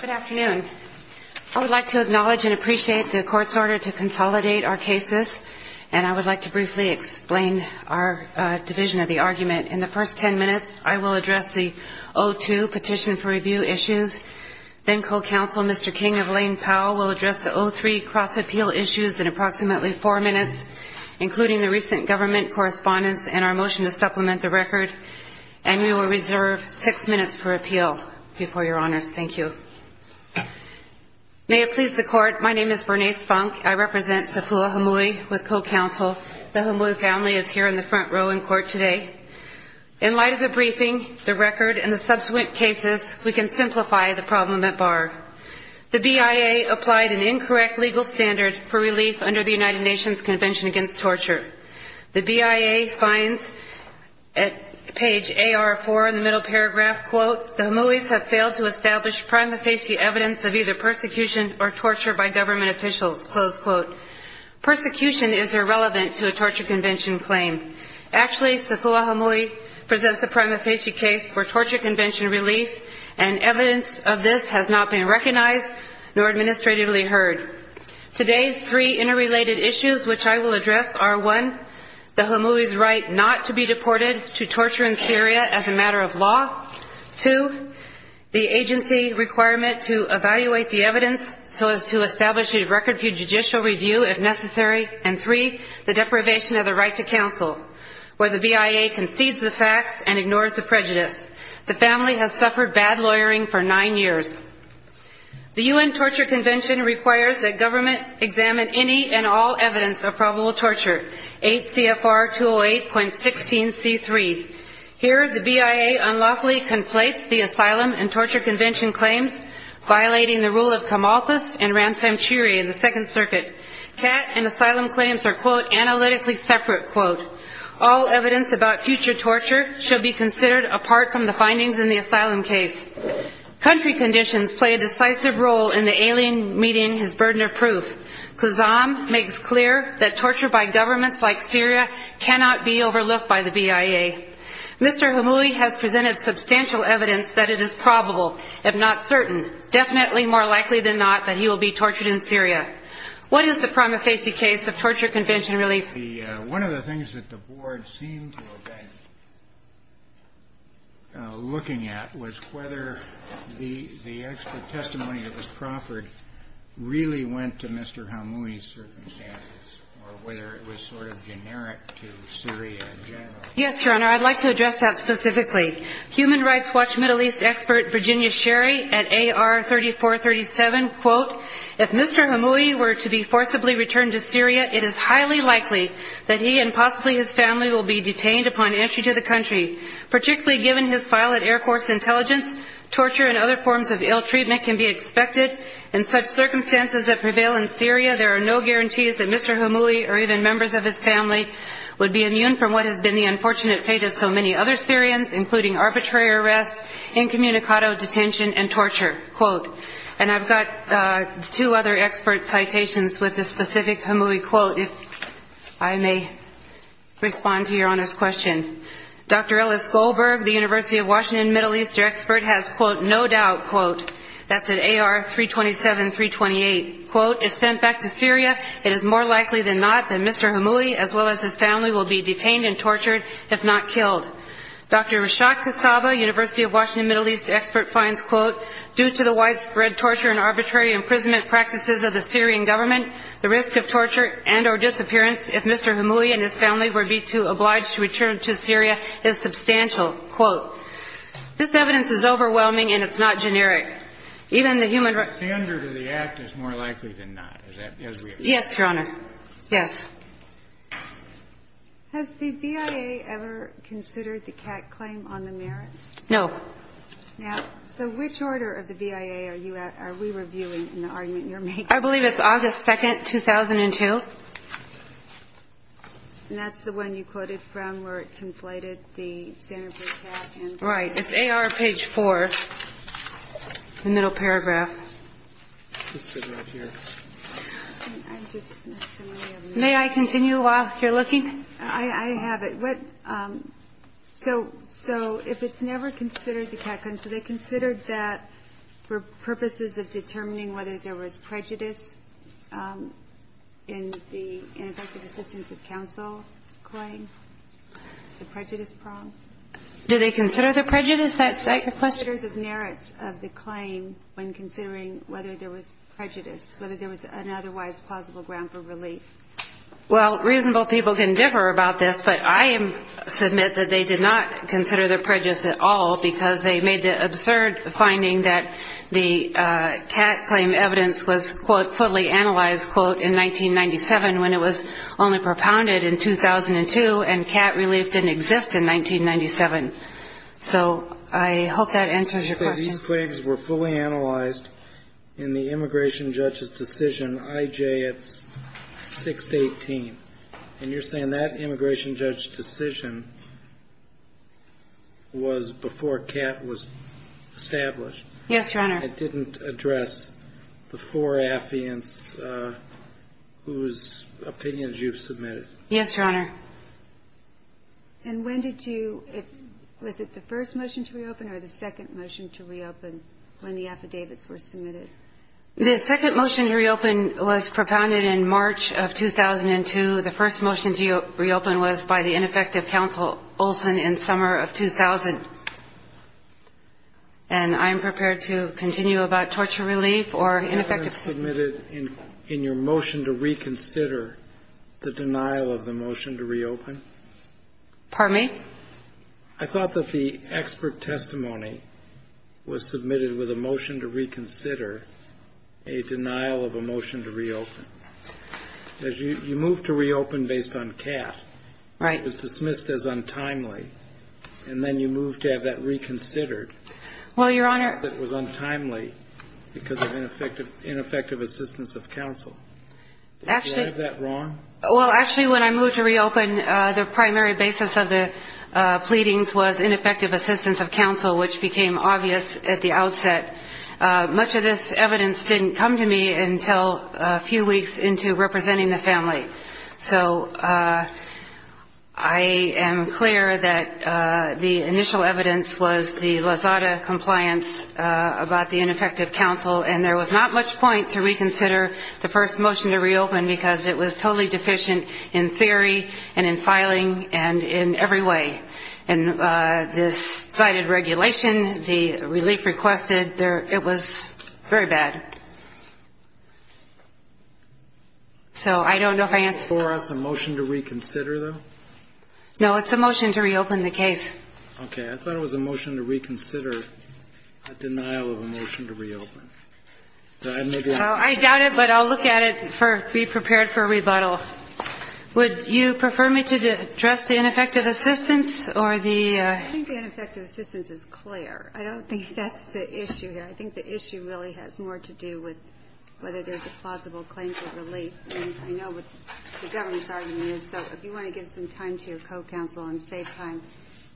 Good afternoon. I would like to acknowledge and appreciate the court's order to consolidate our cases, and I would like to briefly explain our division of the argument. In the first ten minutes, I will address the O2 petition for review issues. Then co-counsel Mr. King of Lane Powell will address the O3 cross-appeal issues in approximately four minutes, including the recent government correspondence and our motion to supplement the record. And we will reserve six minutes for appeal before Your Honors. Thank you. May it please the Court, my name is Bernice Funk. I represent Sapua Hamoui with co-counsel. The Hamoui family is here in the front row in court today. In light of the briefing, the record, and the subsequent cases, we can simplify the problem at bar. The BIA applied an incorrect legal standard for relief under the United Nations Convention Against Torture. The BIA finds at page AR4 in the middle paragraph, quote, the Hamouis have failed to establish prima facie evidence of either persecution or torture by government officials, close quote. Persecution is irrelevant to a torture convention claim. Actually, Sapua Hamoui presents a prima facie case for torture convention relief, and evidence of this has not been recognized nor administratively heard. Today's three interrelated issues which I will address are one, the Hamouis' right not to be deported to torture in Syria as a matter of law, two, the agency requirement to evaluate the evidence so as to establish a record for judicial review if necessary, and three, the deprivation of the right to counsel, where the BIA concedes the facts and ignores the prejudice. The family has suffered bad lawyering for nine years. The U.N. Torture Convention requires that government examine any and all evidence of probable torture, 8 CFR 208.16C3. Here, the BIA unlawfully conflates the Asylum and Torture Convention claims, violating the rule of Camalthus and Ramsam Chiri in the Second Circuit. CAT and asylum claims are, quote, analytically separate, quote. All evidence about future torture should be considered apart from the findings in the asylum case. Country conditions play a decisive role in the alien meeting his burden of proof. Kazam makes clear that torture by governments like Syria cannot be overlooked by the BIA. Mr. Hamouis has presented substantial evidence that it is probable, if not certain, definitely more likely than not that he will be tortured in Syria. What is the prima facie case of torture convention relief? One of the things that the board seemed to have been looking at was whether the expert testimony that was proffered really went to Mr. Hamouis' circumstances or whether it was sort of generic to Syria in general. Yes, Your Honor. I'd like to address that specifically. Human Rights Watch Middle East expert Virginia Sherry at AR 3437, quote, If Mr. Hamouis were to be forcibly returned to Syria, it is highly likely that he and possibly his family will be detained upon entry to the country. Particularly given his file at Air Force Intelligence, torture and other forms of ill treatment can be expected. In such circumstances that prevail in Syria, there are no guarantees that Mr. Hamouis or even members of his family would be immune from what has been the unfortunate fate of so many other Syrians, including arbitrary arrest, incommunicado detention, and torture, quote. And I've got two other expert citations with this specific Hamouis quote. If I may respond to Your Honor's question. Dr. Ellis Goldberg, the University of Washington Middle East expert, has, quote, No doubt, quote, that's at AR 327, 328, quote, If sent back to Syria, it is more likely than not that Mr. Hamouis, as well as his family, will be detained and tortured, if not killed. Dr. Rashad Kassaba, University of Washington Middle East expert, finds, quote, Due to the widespread torture and arbitrary imprisonment practices of the Syrian government, the risk of torture and or disappearance, if Mr. Hamouis and his family were to be obliged to return to Syria, is substantial, quote. This evidence is overwhelming, and it's not generic. Even the human rights standard of the act is more likely than not. Yes, Your Honor. Yes. Has the BIA ever considered the CAC claim on the merits? No. Now, so which order of the BIA are we reviewing in the argument you're making? I believe it's August 2, 2002. And that's the one you quoted from where it conflated the standard for the CAC? Right. It's AR page 4, the middle paragraph. Let's sit right here. May I continue while you're looking? I have it. So if it's never considered the CAC claim, do they consider that for purposes of determining whether there was prejudice in the ineffective assistance of counsel claim, the prejudice prong? Do they consider the prejudice? Do they consider the merits of the claim when considering whether there was prejudice, whether there was an otherwise plausible ground for relief? Well, reasonable people can differ about this, but I submit that they did not consider the prejudice at all because they made the absurd finding that the CAC claim evidence was, quote, fully analyzed, quote, in 1997 when it was only propounded in 2002, and CAC relief didn't exist in 1997. So I hope that answers your question. These claims were fully analyzed in the immigration judge's decision, IJ, at 6-18. And you're saying that immigration judge's decision was before CAT was established? Yes, Your Honor. It didn't address the four affiants whose opinions you've submitted? Yes, Your Honor. And when did you ‑‑ was it the first motion to reopen or the second motion to reopen when the affidavits were submitted? The second motion to reopen was propounded in March of 2002. The first motion to reopen was by the ineffective counsel, Olson, in summer of 2000. And I am prepared to continue about torture relief or ineffective assistance. I thought that the expert testimony was submitted in your motion to reconsider the denial of the motion to reopen. Pardon me? I thought that the expert testimony was submitted with a motion to reconsider a denial of a motion to reopen. You moved to reopen based on CAT. Right. It was dismissed as untimely. And then you moved to have that reconsidered. Well, Your Honor ‑‑ I thought that it was untimely because of ineffective assistance of counsel. Actually ‑‑ Did I have that wrong? Well, actually, when I moved to reopen, the primary basis of the pleadings was ineffective assistance of counsel, which became obvious at the outset. Much of this evidence didn't come to me until a few weeks into representing the family. So I am clear that the initial evidence was the Lazada compliance about the ineffective counsel, and there was not much point to reconsider the first motion to reopen because it was totally deficient in theory and in filing and in every way. And this cited regulation, the relief requested, it was very bad. So I don't know if I answered ‑‑ For us, a motion to reconsider, though? No, it's a motion to reopen the case. Okay. I thought it was a motion to reconsider a denial of a motion to reopen. I doubt it, but I'll look at it, be prepared for a rebuttal. Would you prefer me to address the ineffective assistance or the ‑‑ I think the ineffective assistance is clear. I don't think that's the issue here. I think the issue really has more to do with whether there's a plausible claim for relief. I know what the government's argument is, so if you want to give some time to your co‑counsel and save time,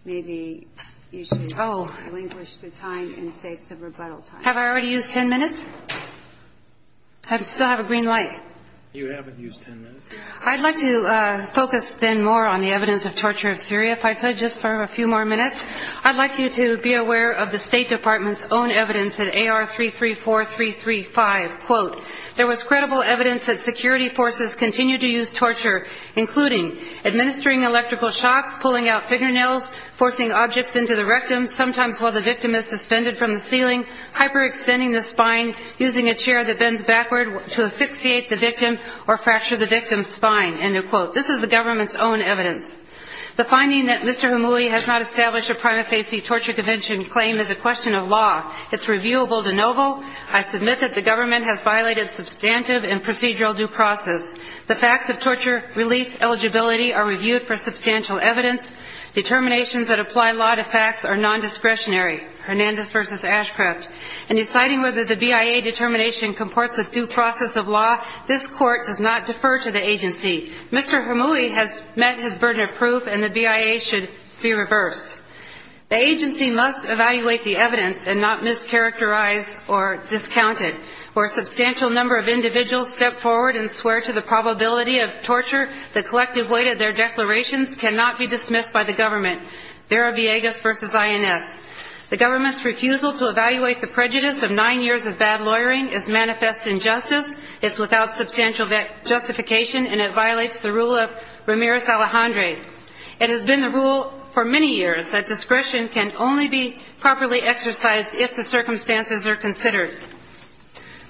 maybe you should relinquish the time and save some rebuttal time. Have I already used 10 minutes? I still have a green light. You haven't used 10 minutes. I'd like to focus then more on the evidence of torture of Syria, if I could, just for a few more minutes. I'd like you to be aware of the State Department's own evidence in AR334335. Quote, there was credible evidence that security forces continued to use torture, including administering electrical shocks, pulling out fingernails, forcing objects into the rectum, sometimes while the victim is suspended from the ceiling, hyperextending the spine, using a chair that bends backward to asphyxiate the victim or fracture the victim's spine, end of quote. This is the government's own evidence. The finding that Mr. Hamoui has not established a prima facie torture convention claim is a question of law. It's reviewable de novo. I submit that the government has violated substantive and procedural due process. The facts of torture, relief, eligibility are reviewed for substantial evidence. Determinations that apply law to facts are nondiscretionary. Hernandez versus Ashcraft. In deciding whether the BIA determination comports with due process of law, this court does not defer to the agency. Mr. Hamoui has met his burden of proof, and the BIA should be reversed. The agency must evaluate the evidence and not mischaracterize or discount it. For a substantial number of individuals stepped forward and swore to the probability of torture, the collective weight of their declarations cannot be dismissed by the government. Villegas versus INS. The government's refusal to evaluate the prejudice of nine years of bad lawyering is manifest injustice. It's without substantial justification, and it violates the rule of Ramirez-Alejandre. It has been the rule for many years that discretion can only be properly exercised if the circumstances are considered.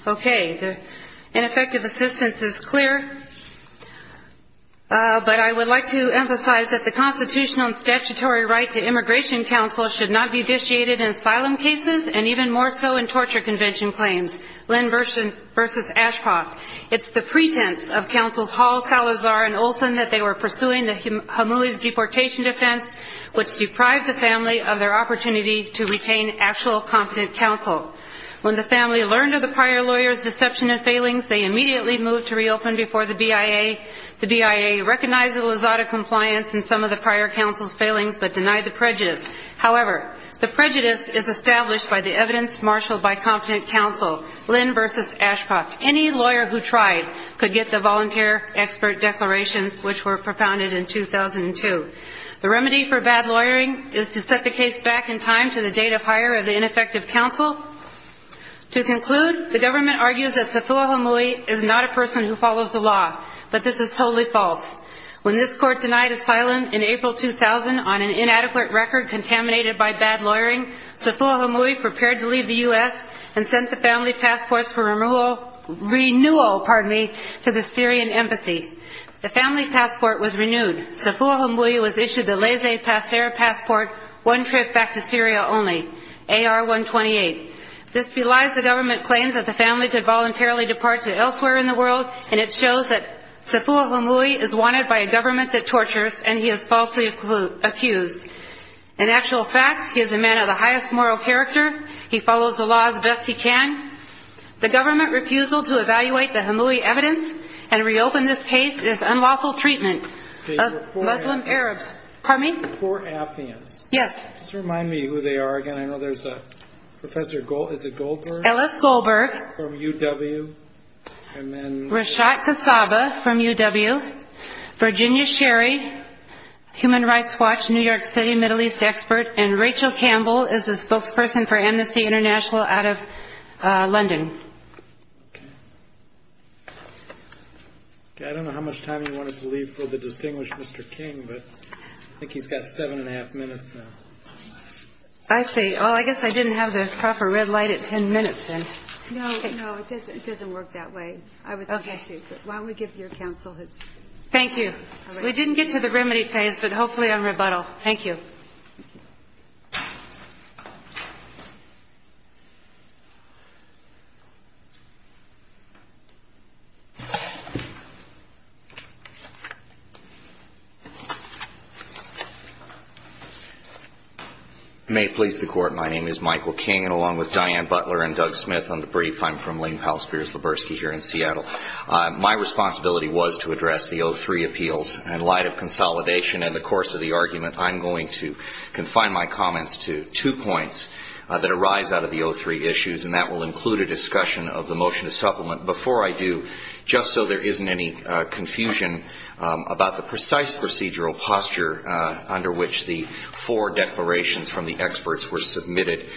Okay, ineffective assistance is clear, but I would like to emphasize that the constitutional and statutory right to immigration counsel should not be vitiated in asylum cases and even more so in torture convention claims. Lynn versus Ashcroft. It's the pretense of counsels Hall, Salazar, and Olson that they were pursuing Hamoui's deportation defense, which deprived the family of their opportunity to retain actual competent counsel. When the family learned of the prior lawyer's deception and failings, they immediately moved to reopen before the BIA. The BIA recognized Elizada compliance in some of the prior counsel's failings but denied the prejudice. However, the prejudice is established by the evidence marshaled by competent counsel. Lynn versus Ashcroft. Any lawyer who tried could get the volunteer expert declarations, which were propounded in 2002. The remedy for bad lawyering is to set the case back in time to the date of hire of the ineffective counsel. To conclude, the government argues that Sathua Hamoui is not a person who follows the law, but this is totally false. When this court denied asylum in April 2000 on an inadequate record contaminated by bad lawyering, Sathua Hamoui prepared to leave the U.S. and sent the family passports for renewal to the Syrian embassy. The family passport was renewed. Sathua Hamoui was issued the Laissez-Passer passport one trip back to Syria only, AR-128. This belies the government claims that the family could voluntarily depart to elsewhere in the world, and it shows that Sathua Hamoui is wanted by a government that tortures and he is falsely accused. In actual fact, he is a man of the highest moral character. He follows the law as best he can. The government refusal to evaluate the Hamoui evidence and reopen this case is unlawful treatment of Muslim Arabs. Pardon me? The poor Afghans. Yes. Just remind me who they are again. I know there's a Professor Goldberg. Is it Goldberg? Ellis Goldberg. From UW. Rashad Kasaba from UW. Virginia Sherry, human rights watch, New York City, Middle East expert. And Rachel Campbell is a spokesperson for Amnesty International out of London. I don't know how much time you wanted to leave for the distinguished Mr. King, but I think he's got seven and a half minutes now. I see. Well, I guess I didn't have the proper red light at ten minutes in. No, no, it doesn't work that way. I was going to, but why don't we give your counsel his. Thank you. We didn't get to the remedy phase, but hopefully I'm rebuttal. Thank you. May it please the Court. My name is Michael King, and along with Diane Butler and Doug Smith, I'm the brief. I'm from Lane Palsperis Laburski here in Seattle. My responsibility was to address the 03 appeals. In light of consolidation and the course of the argument, I'm going to confine my comments to two points that arise out of the 03 issues, and that will include a discussion of the motion to supplement before I do, just so there isn't any confusion about the precise procedural posture under which the four declarations from the experts were submitted.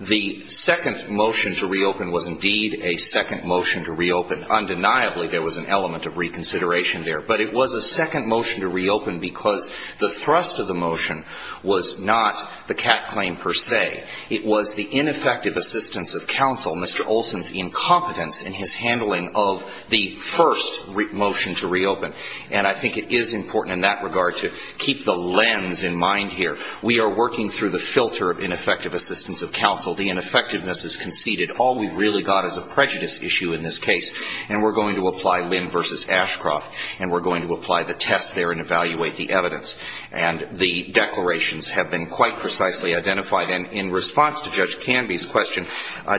The second motion to reopen was indeed a second motion to reopen. Undeniably, there was an element of reconsideration there. But it was a second motion to reopen because the thrust of the motion was not the Catt claim per se. It was the ineffective assistance of counsel, Mr. Olson's incompetence in his handling of the first motion to reopen. And I think it is important in that regard to keep the lens in mind here. We are working through the filter of ineffective assistance of counsel. The ineffectiveness is conceded. All we really got is a prejudice issue in this case, and we're going to apply Lim v. Ashcroft, and we're going to apply the test there and evaluate the evidence. And the declarations have been quite precisely identified. And in response to Judge Canby's question,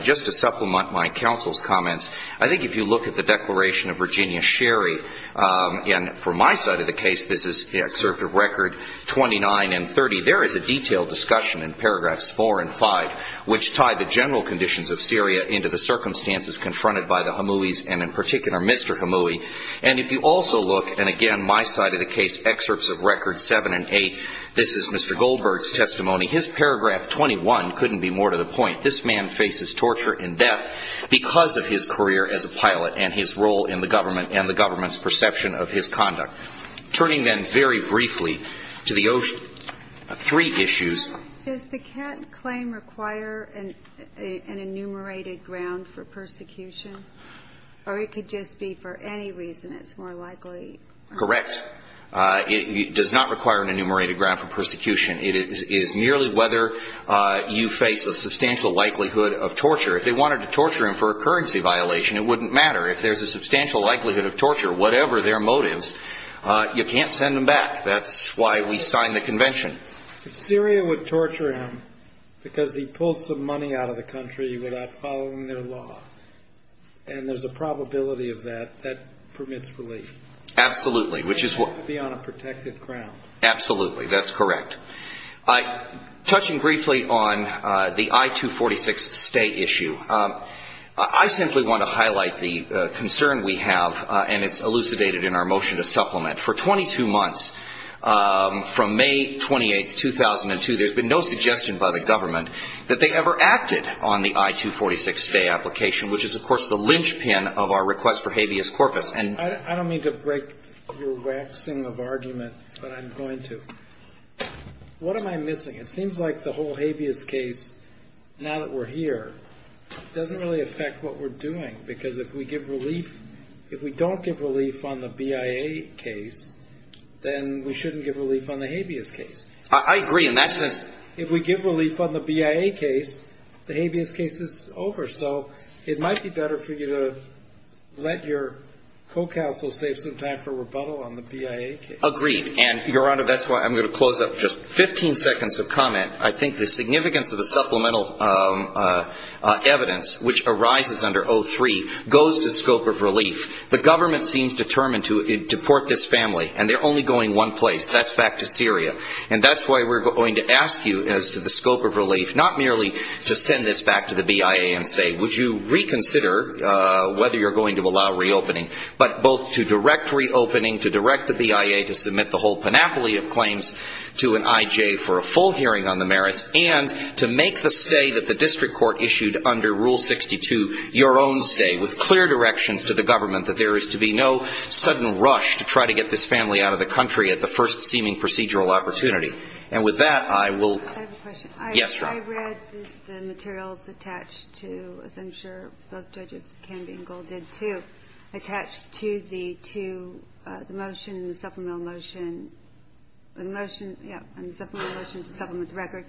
just to supplement my counsel's comments, I think if you look at the declaration of Virginia Sherry, and from my side of the case, this is the excerpt of Record 29 and 30, there is a detailed discussion in Paragraphs 4 and 5 which tie the general conditions of Syria into the circumstances confronted by the Hamouis, and in particular Mr. Hamoui. And if you also look, and again, my side of the case, Excerpts of Records 7 and 8, this is Mr. Goldberg's testimony. His paragraph 21 couldn't be more to the point. This man faces torture and death because of his career as a pilot and his role in the government and the government's perception of his conduct. Turning then very briefly to the three issues. Does the Kent claim require an enumerated ground for persecution? Or it could just be for any reason it's more likely? Correct. It does not require an enumerated ground for persecution. It is merely whether you face a substantial likelihood of torture. If they wanted to torture him for a currency violation, it wouldn't matter. If there's a substantial likelihood of torture, whatever their motives, you can't send them back. That's why we signed the convention. If Syria would torture him because he pulled some money out of the country without following their law, and there's a probability of that, that permits relief. Absolutely. He'd have to be on a protected ground. Absolutely. That's correct. Touching briefly on the I-246 stay issue. I simply want to highlight the concern we have, and it's elucidated in our motion to supplement. For 22 months, from May 28, 2002, there's been no suggestion by the government that they ever acted on the I-246 stay application, which is, of course, the linchpin of our request for habeas corpus. I don't mean to break your waxing of argument, but I'm going to. What am I missing? It seems like the whole habeas case, now that we're here, doesn't really affect what we're doing, because if we don't give relief on the BIA case, then we shouldn't give relief on the habeas case. I agree in that sense. If we give relief on the BIA case, the habeas case is over. So it might be better for you to let your co-counsel save some time for rebuttal on the BIA case. Agreed. And, Your Honor, that's why I'm going to close up just 15 seconds of comment. I think the significance of the supplemental evidence, which arises under 03, goes to scope of relief. The government seems determined to deport this family, and they're only going one place. That's back to Syria. And that's why we're going to ask you as to the scope of relief, not merely to send this back to the BIA and say, would you reconsider whether you're going to allow reopening, but both to direct reopening, to direct the BIA to submit the whole panoply of claims to an IJ for a full hearing on the merits, and to make the stay that the district court issued under Rule 62 your own stay, with clear directions to the government that there is to be no sudden rush to try to get this family out of the country at the first seeming procedural opportunity. And with that, I will. I have a question. Yes, Your Honor. I read the materials attached to, as I'm sure both Judges Canby and Gold did too, attached to the motion, the supplemental motion, the motion, yeah, the supplemental motion to supplement the record.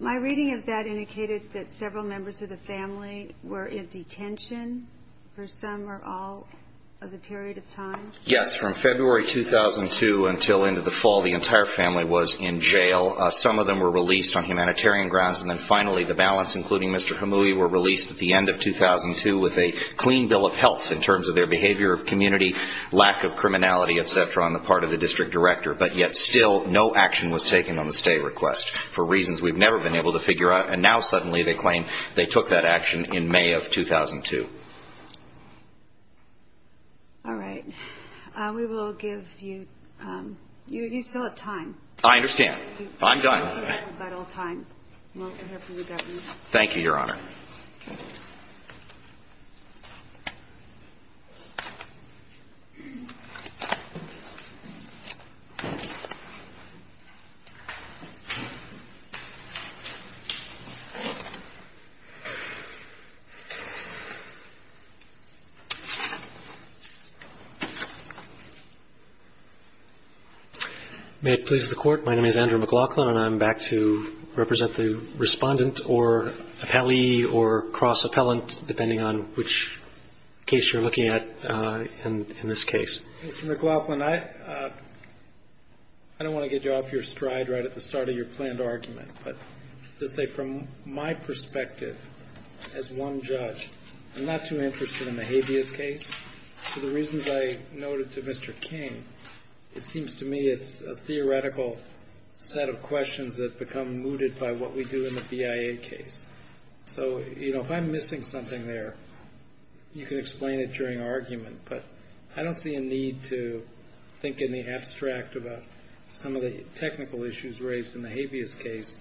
My reading of that indicated that several members of the family were in detention for some or all of the period of time? Yes, from February 2002 until into the fall, the entire family was in jail. Some of them were released on humanitarian grounds, and then finally the balance including Mr. Hamoui were released at the end of 2002 with a clean bill of health in terms of their behavior, community, lack of criminality, et cetera, on the part of the district director. But yet still no action was taken on the stay request for reasons we've never been able to figure out, and now suddenly they claim they took that action in May of 2002. All right. We will give you ‑‑ you're still at time. I understand. I'm done. We're about out of time. Thank you, Your Honor. May it please the Court, my name is Andrew McLaughlin, and I'm back to represent the respondent or appellee or cross-appellant, depending on which case you're looking at in this case. Mr. McLaughlin, I don't want to get you off your stride right at the start of your planned argument, but to say from my perspective as one judge, I'm not too interested in the habeas case. For the reasons I noted to Mr. King, it seems to me it's a theoretical set of questions that become mooted by what we do in the BIA case. So, you know, if I'm missing something there, you can explain it during argument, but I don't see a need to think in the abstract about some of the technical issues raised in the habeas case,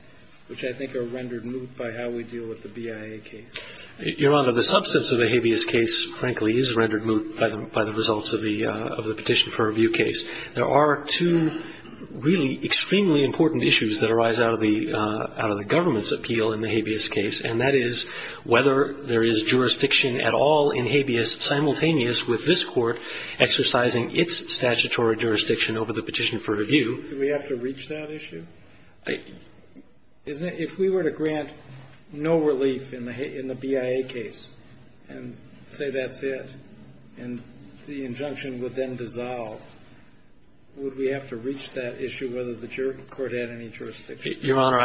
which I think are rendered moot by how we deal with the BIA case. Your Honor, the substance of the habeas case, frankly, is rendered moot by the results of the Petition for Review case. There are two really extremely important issues that arise out of the government's appeal in the habeas case, and that is whether there is jurisdiction at all in habeas simultaneous with this Court exercising its statutory jurisdiction over the Petition for Review. Do we have to reach that issue? If we were to grant no relief in the BIA case and say that's it, and the injunction would then dissolve, would we have to reach that issue whether the court had any jurisdiction? Your Honor,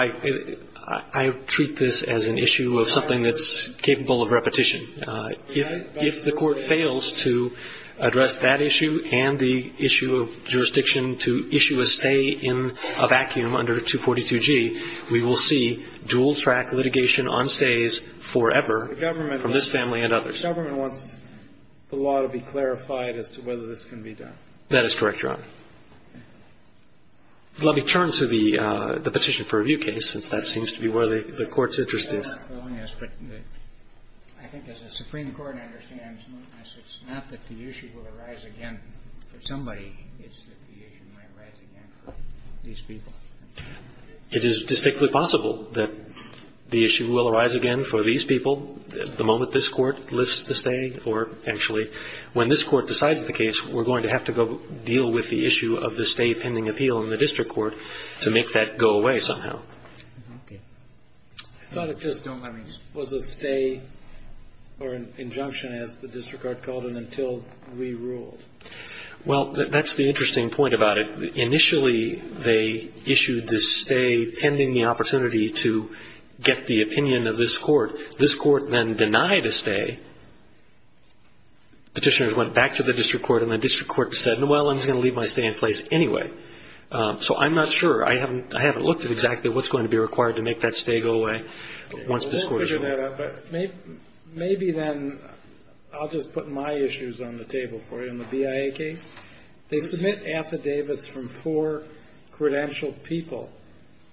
I treat this as an issue of something that's capable of repetition. If the Court fails to address that issue and the issue of jurisdiction to issue a stay in a vacuum under 242G, we will see dual-track litigation on stays forever from this family and others. The government wants the law to be clarified as to whether this can be done. That is correct, Your Honor. Let me turn to the Petition for Review case, since that seems to be where the Court's interest is. It is distinctly possible that the issue will arise again for these people the moment this Court lifts the stay, or eventually when this Court decides the case, we're going to have to go deal with the issue of the stay pending appeal in the district court to make that go away somehow. I thought it just was a stay or an injunction, as the district court called it, until we ruled. Well, that's the interesting point about it. Initially, they issued this stay pending the opportunity to get the opinion of this Court. This Court then denied a stay. Petitioners went back to the district court, and the district court said, well, I'm going to leave my stay in place anyway. So I'm not sure. I haven't looked at exactly what's going to be required to make that stay go away once this Court is ruled. Maybe then I'll just put my issues on the table for you. In the BIA case, they submit affidavits from four credentialed people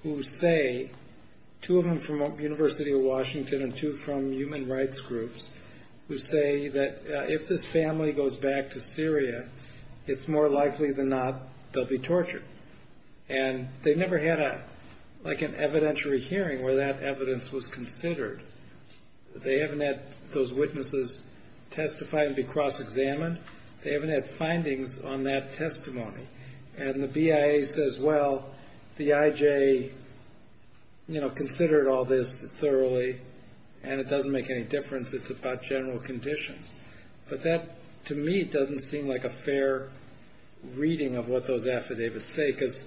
who say, two of them from University of Washington and two from human rights groups, who say that if this family goes back to Syria, it's more likely than not they'll be tortured. They never had an evidentiary hearing where that evidence was considered. They haven't had those witnesses testify and be cross-examined. They haven't had findings on that testimony. The BIA says, well, the IJ considered all this thoroughly, and it doesn't make any difference. It's about general conditions. But that, to me, doesn't seem like a fair reading of what those affidavits say, because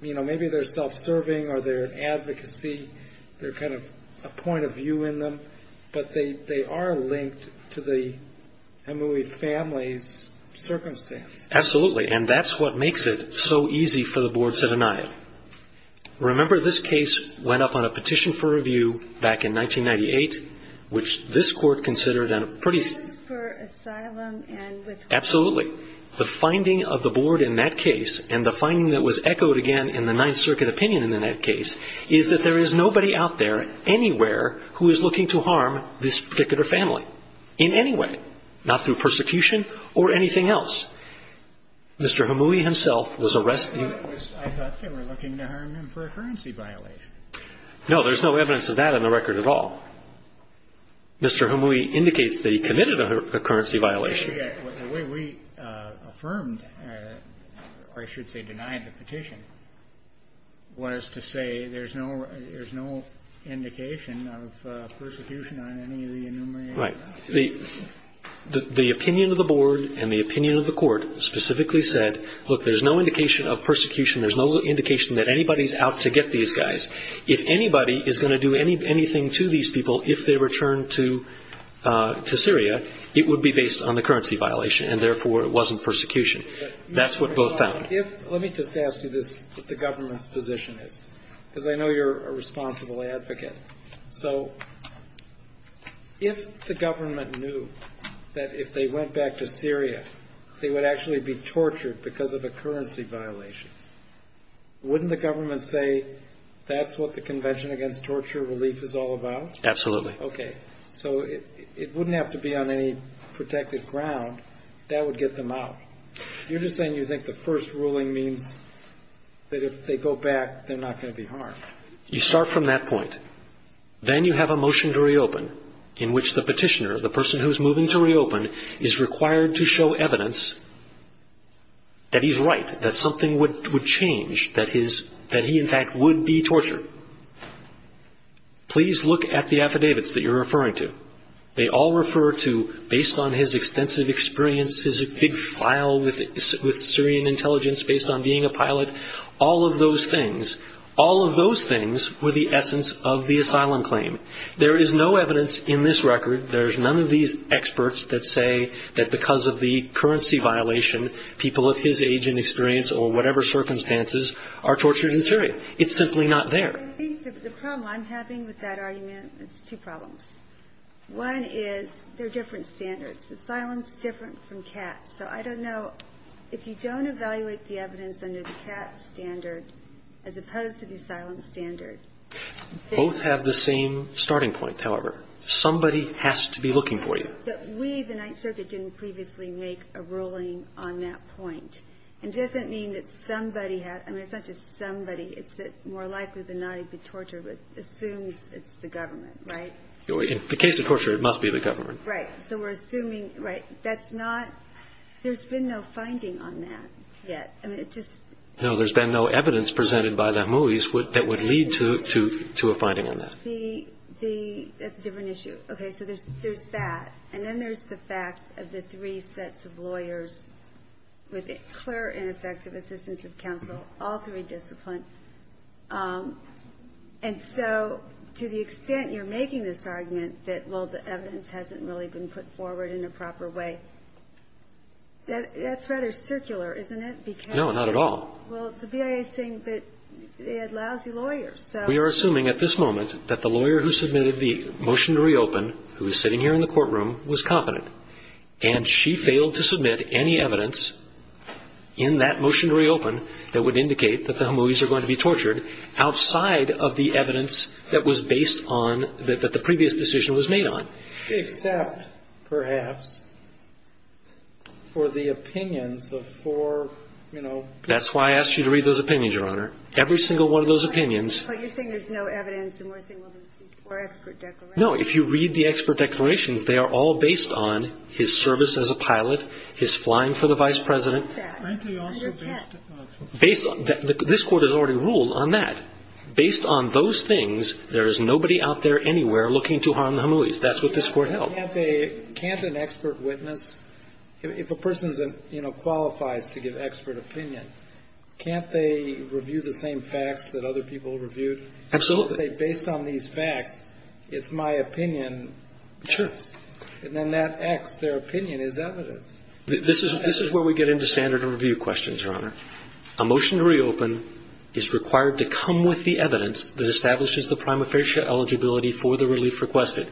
maybe they're self-serving or they're an advocacy. They're kind of a point of view in them. But they are linked to the Emuy family's circumstance. Absolutely. And that's what makes it so easy for the boards to deny it. Remember, this case went up on a petition for review back in 1998, which this Court Absolutely. The finding of the board in that case, and the finding that was echoed again in the Ninth Circuit opinion in that case, is that there is nobody out there anywhere who is looking to harm this particular family in any way, not through persecution or anything else. Mr. Emuy himself was arrested. No, there's no evidence of that in the record at all. Mr. Emuy indicates that he committed a currency violation. The way we affirmed, or I should say denied the petition, was to say there's no indication of persecution on any of the enumerated assets. Right. The opinion of the board and the opinion of the Court specifically said, look, there's no indication of persecution. There's no indication that anybody's out to get these guys. If anybody is going to do anything to these people if they return to Syria, it would be based on the currency violation, and therefore it wasn't persecution. That's what both found. Let me just ask you this, what the government's position is, because I know you're a responsible advocate. So if the government knew that if they went back to Syria, they would actually be tortured because of a currency violation, wouldn't the government say that's what the Convention Against Torture Relief is all about? Absolutely. Okay. So it wouldn't have to be on any protected ground. That would get them out. You're just saying you think the first ruling means that if they go back, they're not going to be harmed. You start from that point. Then you have a motion to reopen in which the petitioner, the person who's moving to that he's right, that something would change, that he in fact would be tortured. Please look at the affidavits that you're referring to. They all refer to, based on his extensive experience, his big file with Syrian intelligence based on being a pilot, all of those things, all of those things were the essence of the asylum claim. There is no evidence in this record, there's none of these experts that say that because of the currency violation, people of his age and experience or whatever circumstances are tortured in Syria. It's simply not there. I think the problem I'm having with that argument is two problems. One is there are different standards. Asylum is different from CAT. So I don't know if you don't evaluate the evidence under the CAT standard as opposed to the asylum standard. Both have the same starting point, however. Somebody has to be looking for you. But we, the Ninth Circuit, didn't previously make a ruling on that point. And it doesn't mean that somebody had, I mean, it's not just somebody, it's that more likely than not he'd be tortured, but assumes it's the government, right? In the case of torture, it must be the government. Right. So we're assuming, right. That's not, there's been no finding on that yet. I mean, it just. No, there's been no evidence presented by the Hamouis that would lead to a finding on that. That's a different issue. Okay, so there's that. And then there's the fact of the three sets of lawyers with clear and effective assistance of counsel, all three disciplined. And so to the extent you're making this argument that, well, the evidence hasn't really been put forward in a proper way, that's rather circular, isn't it? Because. No, not at all. Well, the BIA is saying that they had lousy lawyers, so. We are assuming at this moment that the lawyer who submitted the motion to reopen, who is sitting here in the courtroom, was competent. And she failed to submit any evidence in that motion to reopen that would indicate that the Hamouis are going to be tortured outside of the evidence that was based on, that the previous decision was made on. Except, perhaps, for the opinions of four, you know. That's why I asked you to read those opinions, Your Honor. Every single one of those opinions. But you're saying there's no evidence, and we're saying, well, there's four expert declarations. No. If you read the expert declarations, they are all based on his service as a pilot, his flying for the Vice President. And your pet. This Court has already ruled on that. Based on those things, there is nobody out there anywhere looking to harm the Hamouis. That's what this Court held. Can't an expert witness, if a person, you know, qualifies to give expert opinion, can't they review the same facts that other people reviewed? Absolutely. Based on these facts, it's my opinion. Sure. And then that X, their opinion, is evidence. This is where we get into standard of review questions, Your Honor. A motion to reopen is required to come with the evidence that establishes the prima facie eligibility for the relief requested.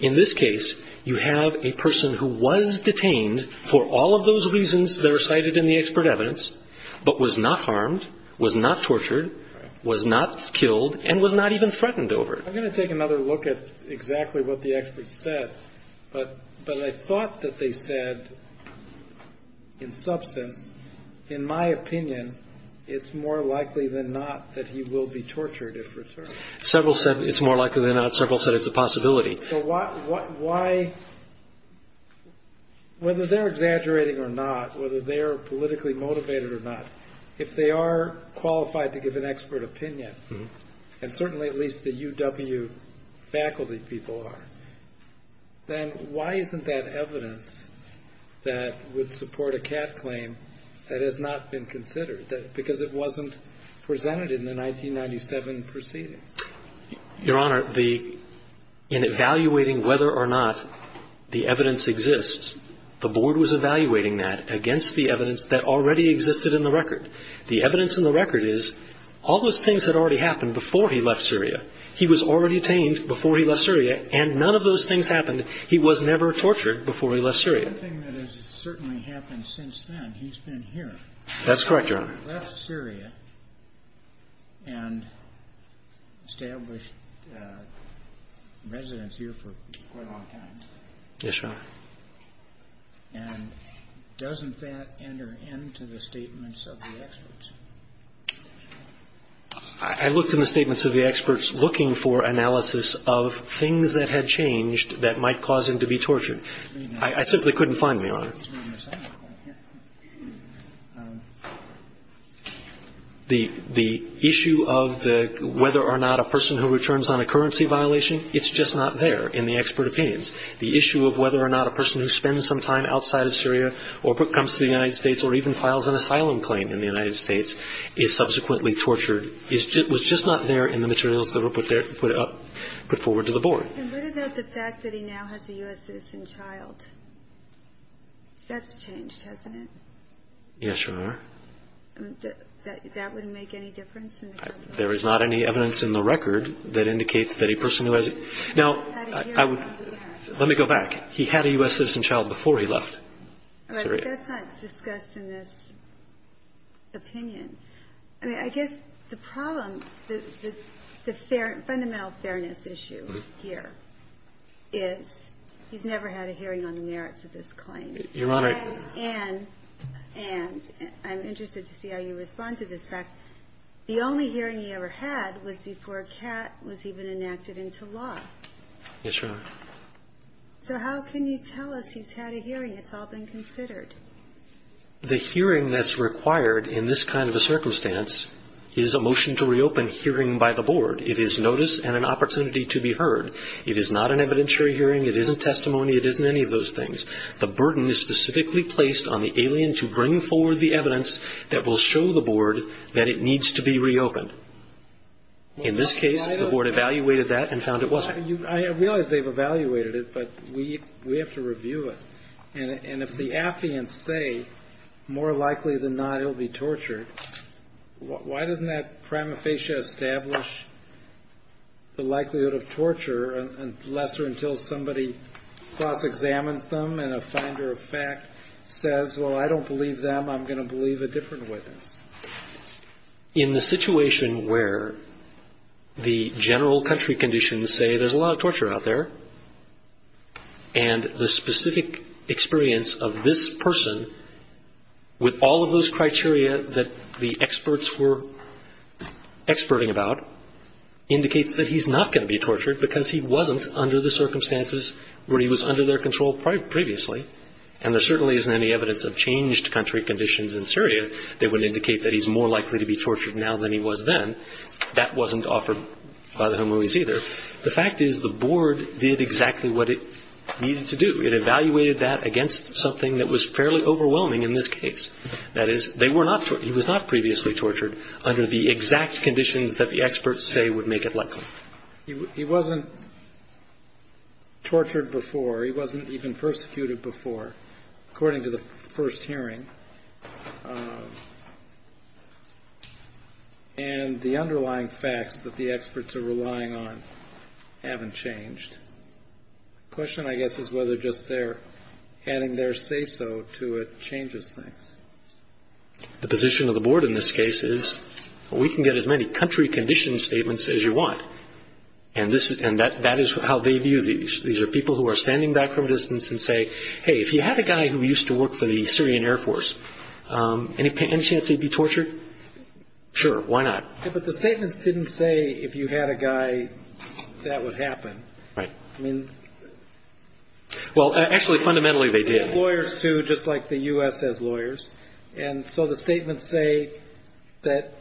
In this case, you have a person who was detained for all of those reasons that are cited in the expert evidence, but was not harmed, was not tortured, was not killed, and was not even threatened over it. I'm going to take another look at exactly what the experts said. But I thought that they said, in substance, in my opinion, it's more likely than not that he will be tortured if returned. Several said it's more likely than not. Several said it's a possibility. So why, whether they're exaggerating or not, whether they're politically motivated or not, if they are qualified to give an expert opinion, and certainly at least the UW faculty people are, then why isn't that evidence that would support a CAT claim that has not been considered? Because it wasn't presented in the 1997 proceeding. Your Honor, in evaluating whether or not the evidence exists, the Board was evaluating that against the evidence that already existed in the record. The evidence in the record is all those things had already happened before he left Syria. He was already detained before he left Syria, and none of those things happened. He was never tortured before he left Syria. The only thing that has certainly happened since then, he's been here. That's correct, Your Honor. He left Syria and established residence here for quite a long time. Yes, Your Honor. And doesn't that enter into the statements of the experts? I looked in the statements of the experts looking for analysis of things that had changed that might cause him to be tortured. I simply couldn't find them, Your Honor. The issue of whether or not a person who returns on a currency violation, it's just not there in the expert opinions. The issue of whether or not a person who spends some time outside of Syria or comes to the United States or even files an asylum claim in the United States is subsequently tortured, was just not there in the materials that were put forward to the Board. And what about the fact that he now has a U.S. citizen child? That's changed, hasn't it? Yes, Your Honor. That wouldn't make any difference? There is not any evidence in the record that indicates that a person who has – Now, let me go back. He had a U.S. citizen child before he left Syria. Right, but that's not discussed in this opinion. I mean, I guess the problem, the fundamental fairness issue here is he's never had a hearing on the merits of this claim. Your Honor. And I'm interested to see how you respond to this fact. The only hearing he ever had was before Catt was even enacted into law. Yes, Your Honor. So how can you tell us he's had a hearing? It's all been considered. The hearing that's required in this kind of a circumstance is a motion to reopen hearing by the Board. It is notice and an opportunity to be heard. It is not an evidentiary hearing. It isn't testimony. It isn't any of those things. The burden is specifically placed on the alien to bring forward the evidence that will show the Board that it needs to be reopened. In this case, the Board evaluated that and found it wasn't. I realize they've evaluated it, but we have to review it. And if the affiants say, more likely than not, he'll be tortured, why doesn't that prima facie establish the likelihood of torture, unless or until somebody cross-examines them and a finder of fact says, well, I don't believe them, I'm going to believe a different witness? In the situation where the general country conditions say there's a lot of torture out there and the specific experience of this person with all of those criteria that the experts were experting about indicates that he's not going to be tortured because he wasn't under the circumstances where he was under their control previously. And there certainly isn't any evidence of changed country conditions in Syria that would indicate that he's more likely to be tortured now than he was then. That wasn't offered by the Humorees either. The fact is the Board did exactly what it needed to do. It evaluated that against something that was fairly overwhelming in this case. That is, they were not he was not previously tortured under the exact conditions that the experts say would make it likely. He wasn't tortured before. He wasn't even persecuted before, according to the first hearing. And the underlying facts that the experts are relying on haven't changed. The question, I guess, is whether just their adding their say-so to it changes things. The position of the Board in this case is we can get as many country condition statements as you want. And that is how they view these. These are people who are standing back from a distance and say, Hey, if you had a guy who used to work for the Syrian Air Force, any chance he'd be tortured? Sure. Why not? But the statements didn't say if you had a guy that would happen. Right. I mean. Well, actually, fundamentally, they did. Lawyers, too, just like the U.S. has lawyers. And so the statements say that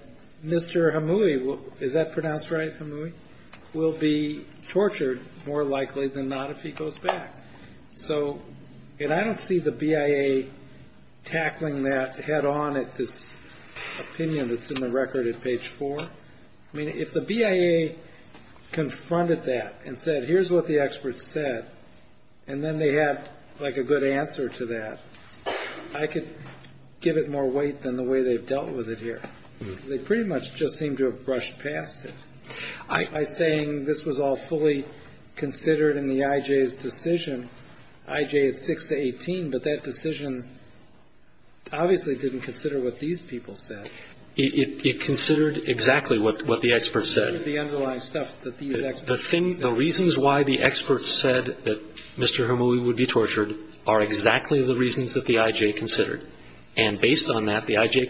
Mr. Humoree, is that pronounced right, Humoree, will be tortured more likely than not if he goes back. So I don't see the BIA tackling that head-on at this opinion that's in the record at page 4. I mean, if the BIA confronted that and said, Here's what the experts said, and then they had, like, a good answer to that, I could give it more weight than the way they've dealt with it here. They pretty much just seem to have brushed past it. By saying this was all fully considered in the I.J.'s decision, I.J. had 6 to 18, but that decision obviously didn't consider what these people said. It considered exactly what the experts said. It considered the underlying stuff that these experts said. The reasons why the experts said that Mr. Humoree would be tortured are exactly the reasons that the I.J. considered. And based on that, the I.J.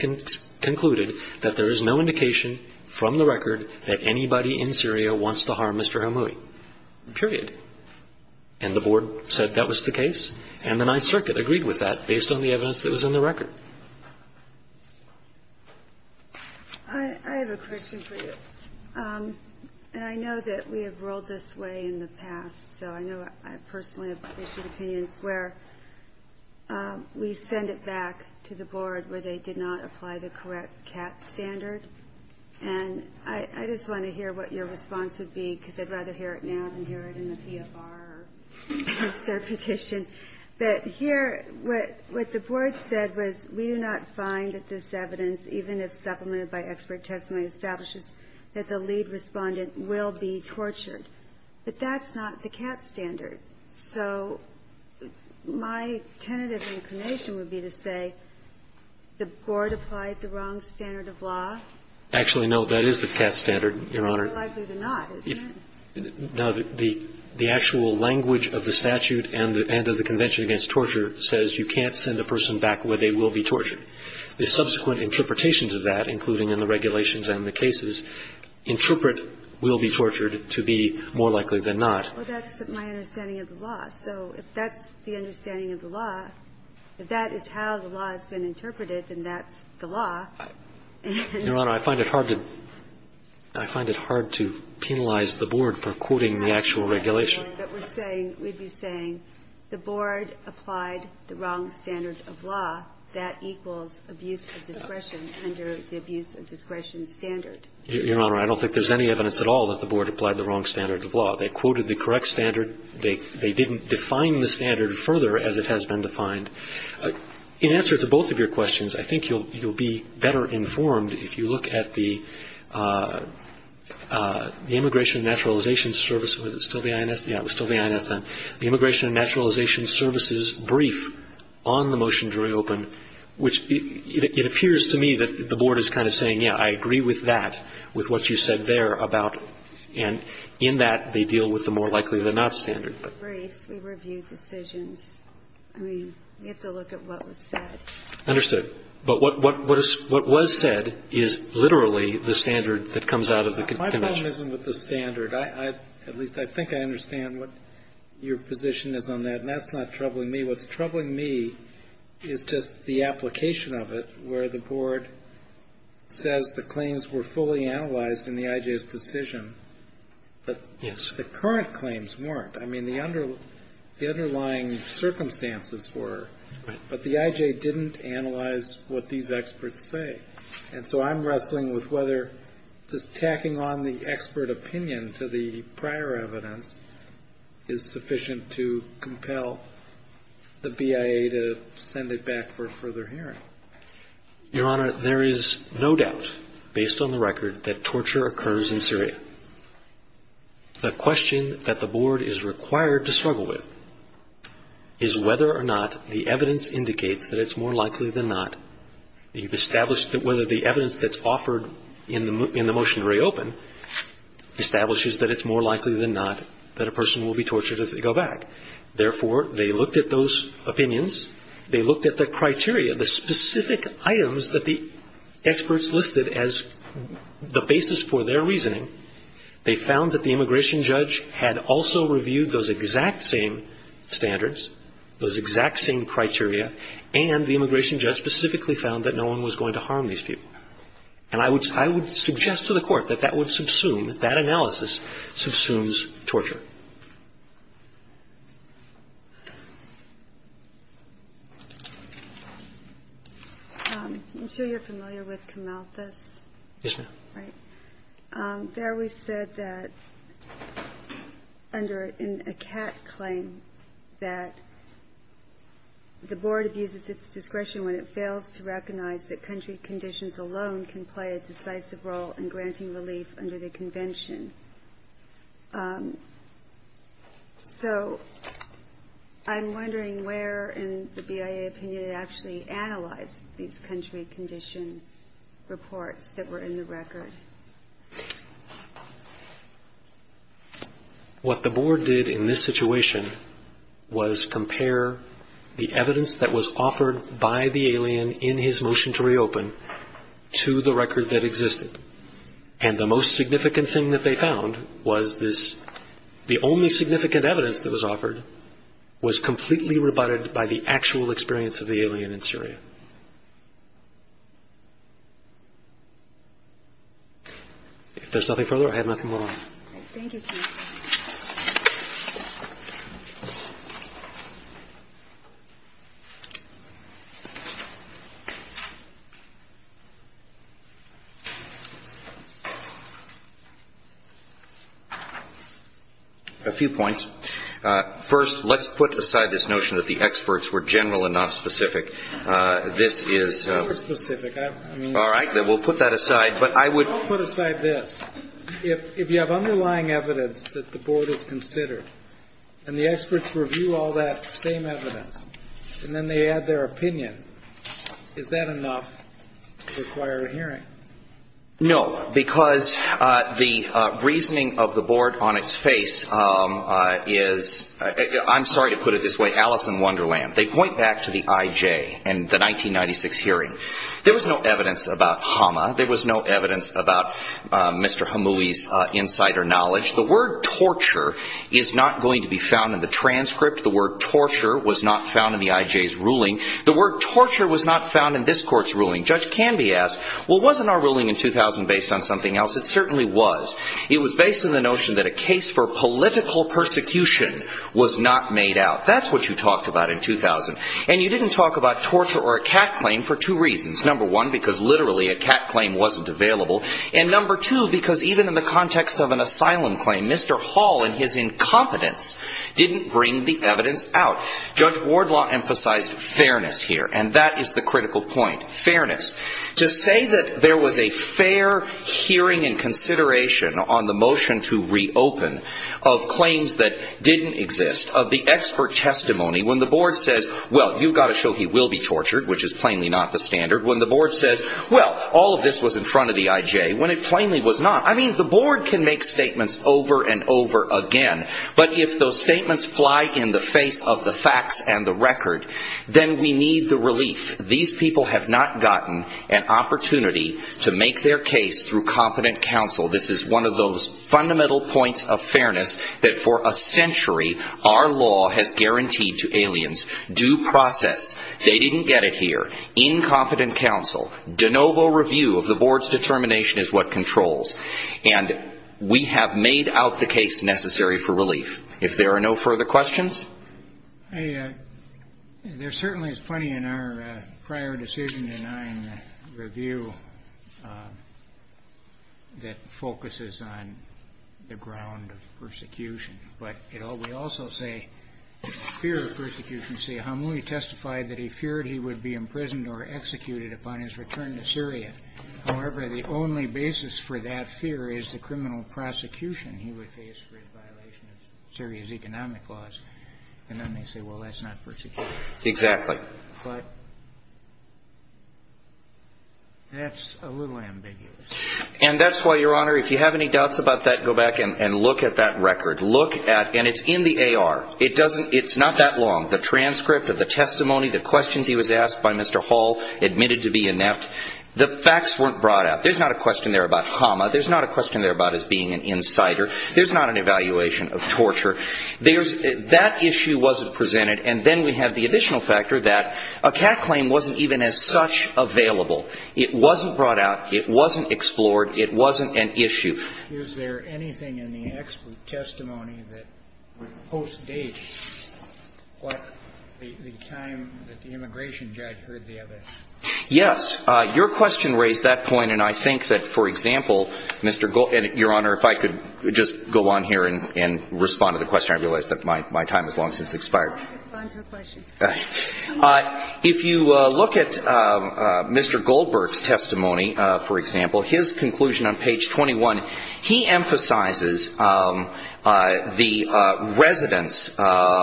concluded that there is no indication from the record that anybody in Syria wants to harm Mr. Humoree. Period. And the Board said that was the case. And the Ninth Circuit agreed with that based on the evidence that was in the record. I have a question for you. And I know that we have rolled this way in the past, so I know I personally have issued opinions where we send it back to the Board where they did not apply the correct CAT standard. And I just want to hear what your response would be, because I'd rather hear it now than hear it in the PFR petition. But here, what the Board said was we do not find that this evidence, even if supplemented by expert testimony, establishes that the lead Respondent will be tortured. But that's not the CAT standard. So my tentative inclination would be to say the Board applied the wrong standard of law. Actually, no, that is the CAT standard, Your Honor. More likely than not, isn't it? No, the actual language of the statute and of the Convention Against Torture says you can't send a person back where they will be tortured. The subsequent interpretations of that, including in the regulations and the cases, interpret will be tortured to be more likely than not. Well, that's my understanding of the law. So if that's the understanding of the law, if that is how the law has been interpreted, then that's the law. Your Honor, I find it hard to penalize the Board for quoting the actual regulation. But we're saying, we'd be saying the Board applied the wrong standard of law. That equals abuse of discretion under the abuse of discretion standard. Your Honor, I don't think there's any evidence at all that the Board applied the wrong standard of law. They quoted the correct standard. They didn't define the standard further as it has been defined. In answer to both of your questions, I think you'll be better informed if you look at the Immigration and Naturalization Service. Was it still the INS? Yeah, it was still the INS then. The Immigration and Naturalization Service's brief on the motion to reopen, which it appears to me that the Board is kind of saying, yeah, I agree with that, with what you said there about, and in that they deal with the more likely than not standard. We review briefs. We review decisions. We have to look at what was said. Understood. But what was said is literally the standard that comes out of the convention. My problem isn't with the standard. At least I think I understand what your position is on that, and that's not troubling me. What's troubling me is just the application of it, where the Board says the claims were fully analyzed in the IJ's decision, but the current claims weren't. I mean, the underlying circumstances were, but the IJ didn't analyze what these experts say. And so I'm wrestling with whether just tacking on the expert opinion to the prior evidence is sufficient to compel the BIA to send it back for further hearing. Your Honor, there is no doubt, based on the record, that torture occurs in Syria. The question that the Board is required to struggle with is whether or not the evidence indicates that it's more likely than not. You've established that whether the evidence that's offered in the motion to reopen establishes that it's more likely than not that a person will be tortured if they go back. Therefore, they looked at those opinions. They looked at the criteria, the specific items that the experts listed as the basis for their reasoning. They found that the immigration judge had also reviewed those exact same standards, those exact same criteria, and the immigration judge specifically found that no one was going to harm these people. And I would suggest to the Court that that would subsume, that analysis subsumes torture. Ginsburg. I'm sure you're familiar with Camalthus. Yes, ma'am. Right. There we said that under a CAT claim that the Board abuses its discretion when it fails to recognize that country conditions alone can play a decisive role in granting relief under the Convention. So I'm wondering where in the BIA opinion it actually analyzed these country condition reports that were in the record. What the Board did in this situation was compare the evidence that was offered by the most significant thing that they found was this, the only significant evidence that was offered was completely rebutted by the actual experience of the alien in Syria. If there's nothing further, I have nothing more. Thank you. A few points. First, let's put aside this notion that the experts were general and not specific. This is all right. We'll put that aside. But I would put aside this. If you have underlying evidence that the Board has considered and the experts review all that same evidence and then they add their opinion, is that enough to require a hearing? No, because the reasoning of the Board on its face is, I'm sorry to put it this way, Alice in Wonderland. They point back to the IJ and the 1996 hearing. There was no evidence about Hama. There was no evidence about Mr. Hamoui's insider knowledge. The word torture is not going to be found in the transcript. The word torture was not found in the IJ's ruling. The word torture was not found in this court's ruling. Judge Canby asked, well, wasn't our ruling in 2000 based on something else? It certainly was. It was based on the notion that a case for political persecution was not made out. That's what you talked about in 2000. And you didn't talk about torture or a cat claim for two reasons. Number one, because literally a cat claim wasn't available. And number two, because even in the context of an asylum claim, Mr. Hall and his incompetence didn't bring the evidence out. Judge Wardlaw emphasized fairness here. And that is the critical point. Fairness. To say that there was a fair hearing and consideration on the motion to reopen of claims that didn't exist, of the expert testimony, when the board says, well, you've got to show he will be tortured, which is plainly not the standard. When the board says, well, all of this was in front of the IJ, when it plainly was not. I mean, the board can make statements over and over again. But if those statements fly in the face of the facts and the record, then we need the relief. These people have not gotten an opportunity to make their case through competent counsel. This is one of those fundamental points of fairness that for a century our law has guaranteed to aliens. Due process. They didn't get it here. Incompetent counsel. De novo review of the board's determination is what controls. And we have made out the case necessary for relief. If there are no further questions. I. There certainly is plenty in our prior decision to nine review. That focuses on the ground of persecution. But it all. We also say fear of persecution. See how we testified that he feared he would be imprisoned or executed upon his return to Syria. However, the only basis for that fear is the criminal prosecution he would face for his violation of Syria's economic laws. And then they say, well, that's not persecution. Exactly. But that's a little ambiguous. And that's why, Your Honor, if you have any doubts about that, go back and look at that record. Look at. And it's in the AR. It doesn't. It's not that long. The transcript of the testimony, the questions he was asked by Mr. Hall, admitted to be inept. The facts weren't brought out. There's not a question there about Hama. There's not a question there about his being an insider. There's not an evaluation of torture. There's that issue wasn't presented. And then we have the additional factor that a cat claim wasn't even as such available. It wasn't brought out. It wasn't explored. It wasn't an issue. Is there anything in the expert testimony that would postdate what the time that the immigration judge heard the evidence? Yes. Your question raised that point. And I think that, for example, Mr. Gold – and, Your Honor, if I could just go on here and respond to the question. I realize that my time has long since expired. I'll respond to the question. If you look at Mr. Goldberg's testimony, for example, his conclusion on page 21, he emphasizes the residents and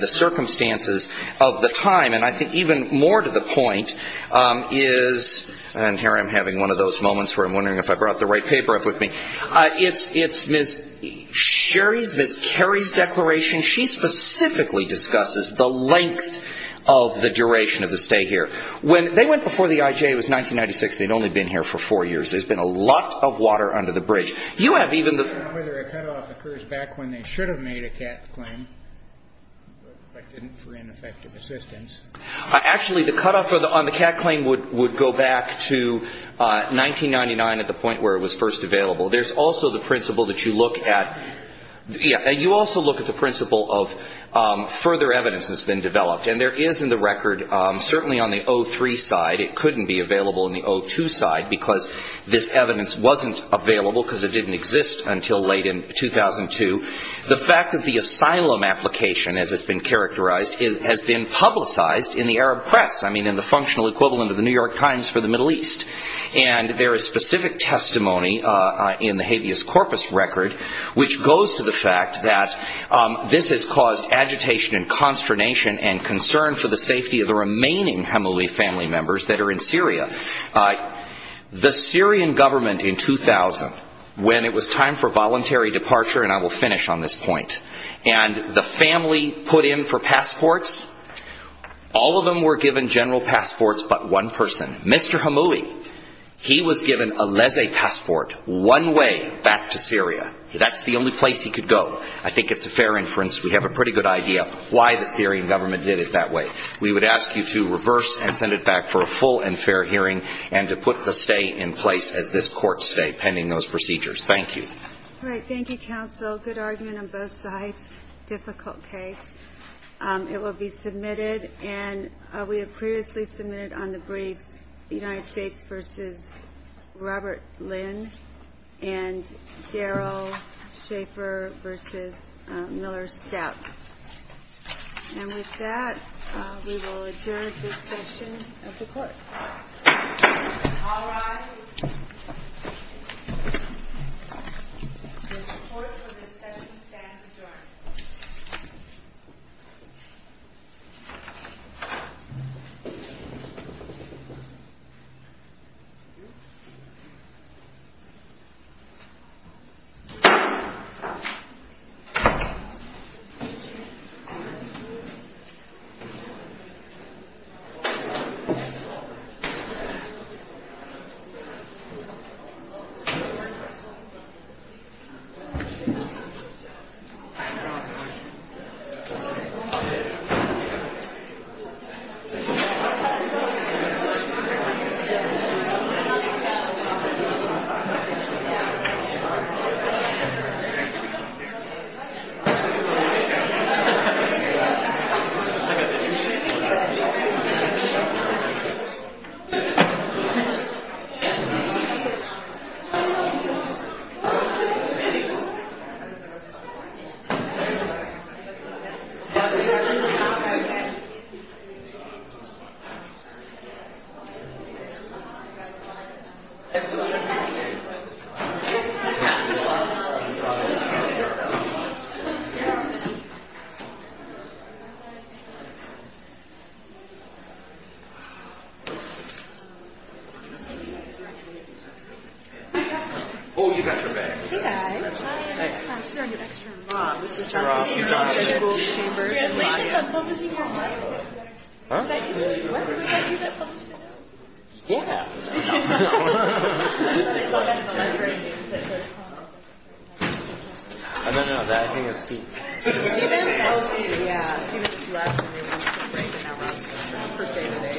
the circumstances of the time. And I think even more to the point is – and here I'm having one of those moments where I'm wondering if I brought the right paper up with me. It's Ms. Sherry's, Ms. Kerry's declaration. She specifically discusses the length of the duration of the stay here. When – they went before the IJA. It was 1996. They'd only been here for four years. There's been a lot of water under the bridge. I don't know whether a cutoff occurs back when they should have made a CAT claim, but didn't for ineffective assistance. Actually, the cutoff on the CAT claim would go back to 1999 at the point where it was first available. There's also the principle that you look at – yeah. You also look at the principle of further evidence that's been developed. And there is in the record, certainly on the 03 side, it couldn't be available on the 02 side because this evidence wasn't available because it didn't exist until late in 2002. The fact that the asylum application, as it's been characterized, has been publicized in the Arab press. I mean, in the functional equivalent of the New York Times for the Middle East. And there is specific testimony in the habeas corpus record which goes to the fact that this has caused agitation and consternation and concern for the safety of the remaining Hemeli family members that are in Syria. The Syrian government in 2000, when it was time for voluntary departure, and I will finish on this point, and the family put in for passports, all of them were given general passports but one person. Mr. Hemeli, he was given a laissez passport one way back to Syria. That's the only place he could go. I think it's a fair inference. We have a pretty good idea why the Syrian government did it that way. We would ask you to reverse and send it back for a full and fair hearing and to put the stay in place as this court stay, pending those procedures. Thank you. All right. Thank you, counsel. Good argument on both sides. Difficult case. It will be submitted, and we have previously submitted on the briefs the United States versus Robert Lynn and Daryl Schaefer versus Miller Stepp. And with that, we will adjourn this session of the court. All rise. The court will discuss and stand adjourned. Thank you. Thank you. Thank you. Thank you.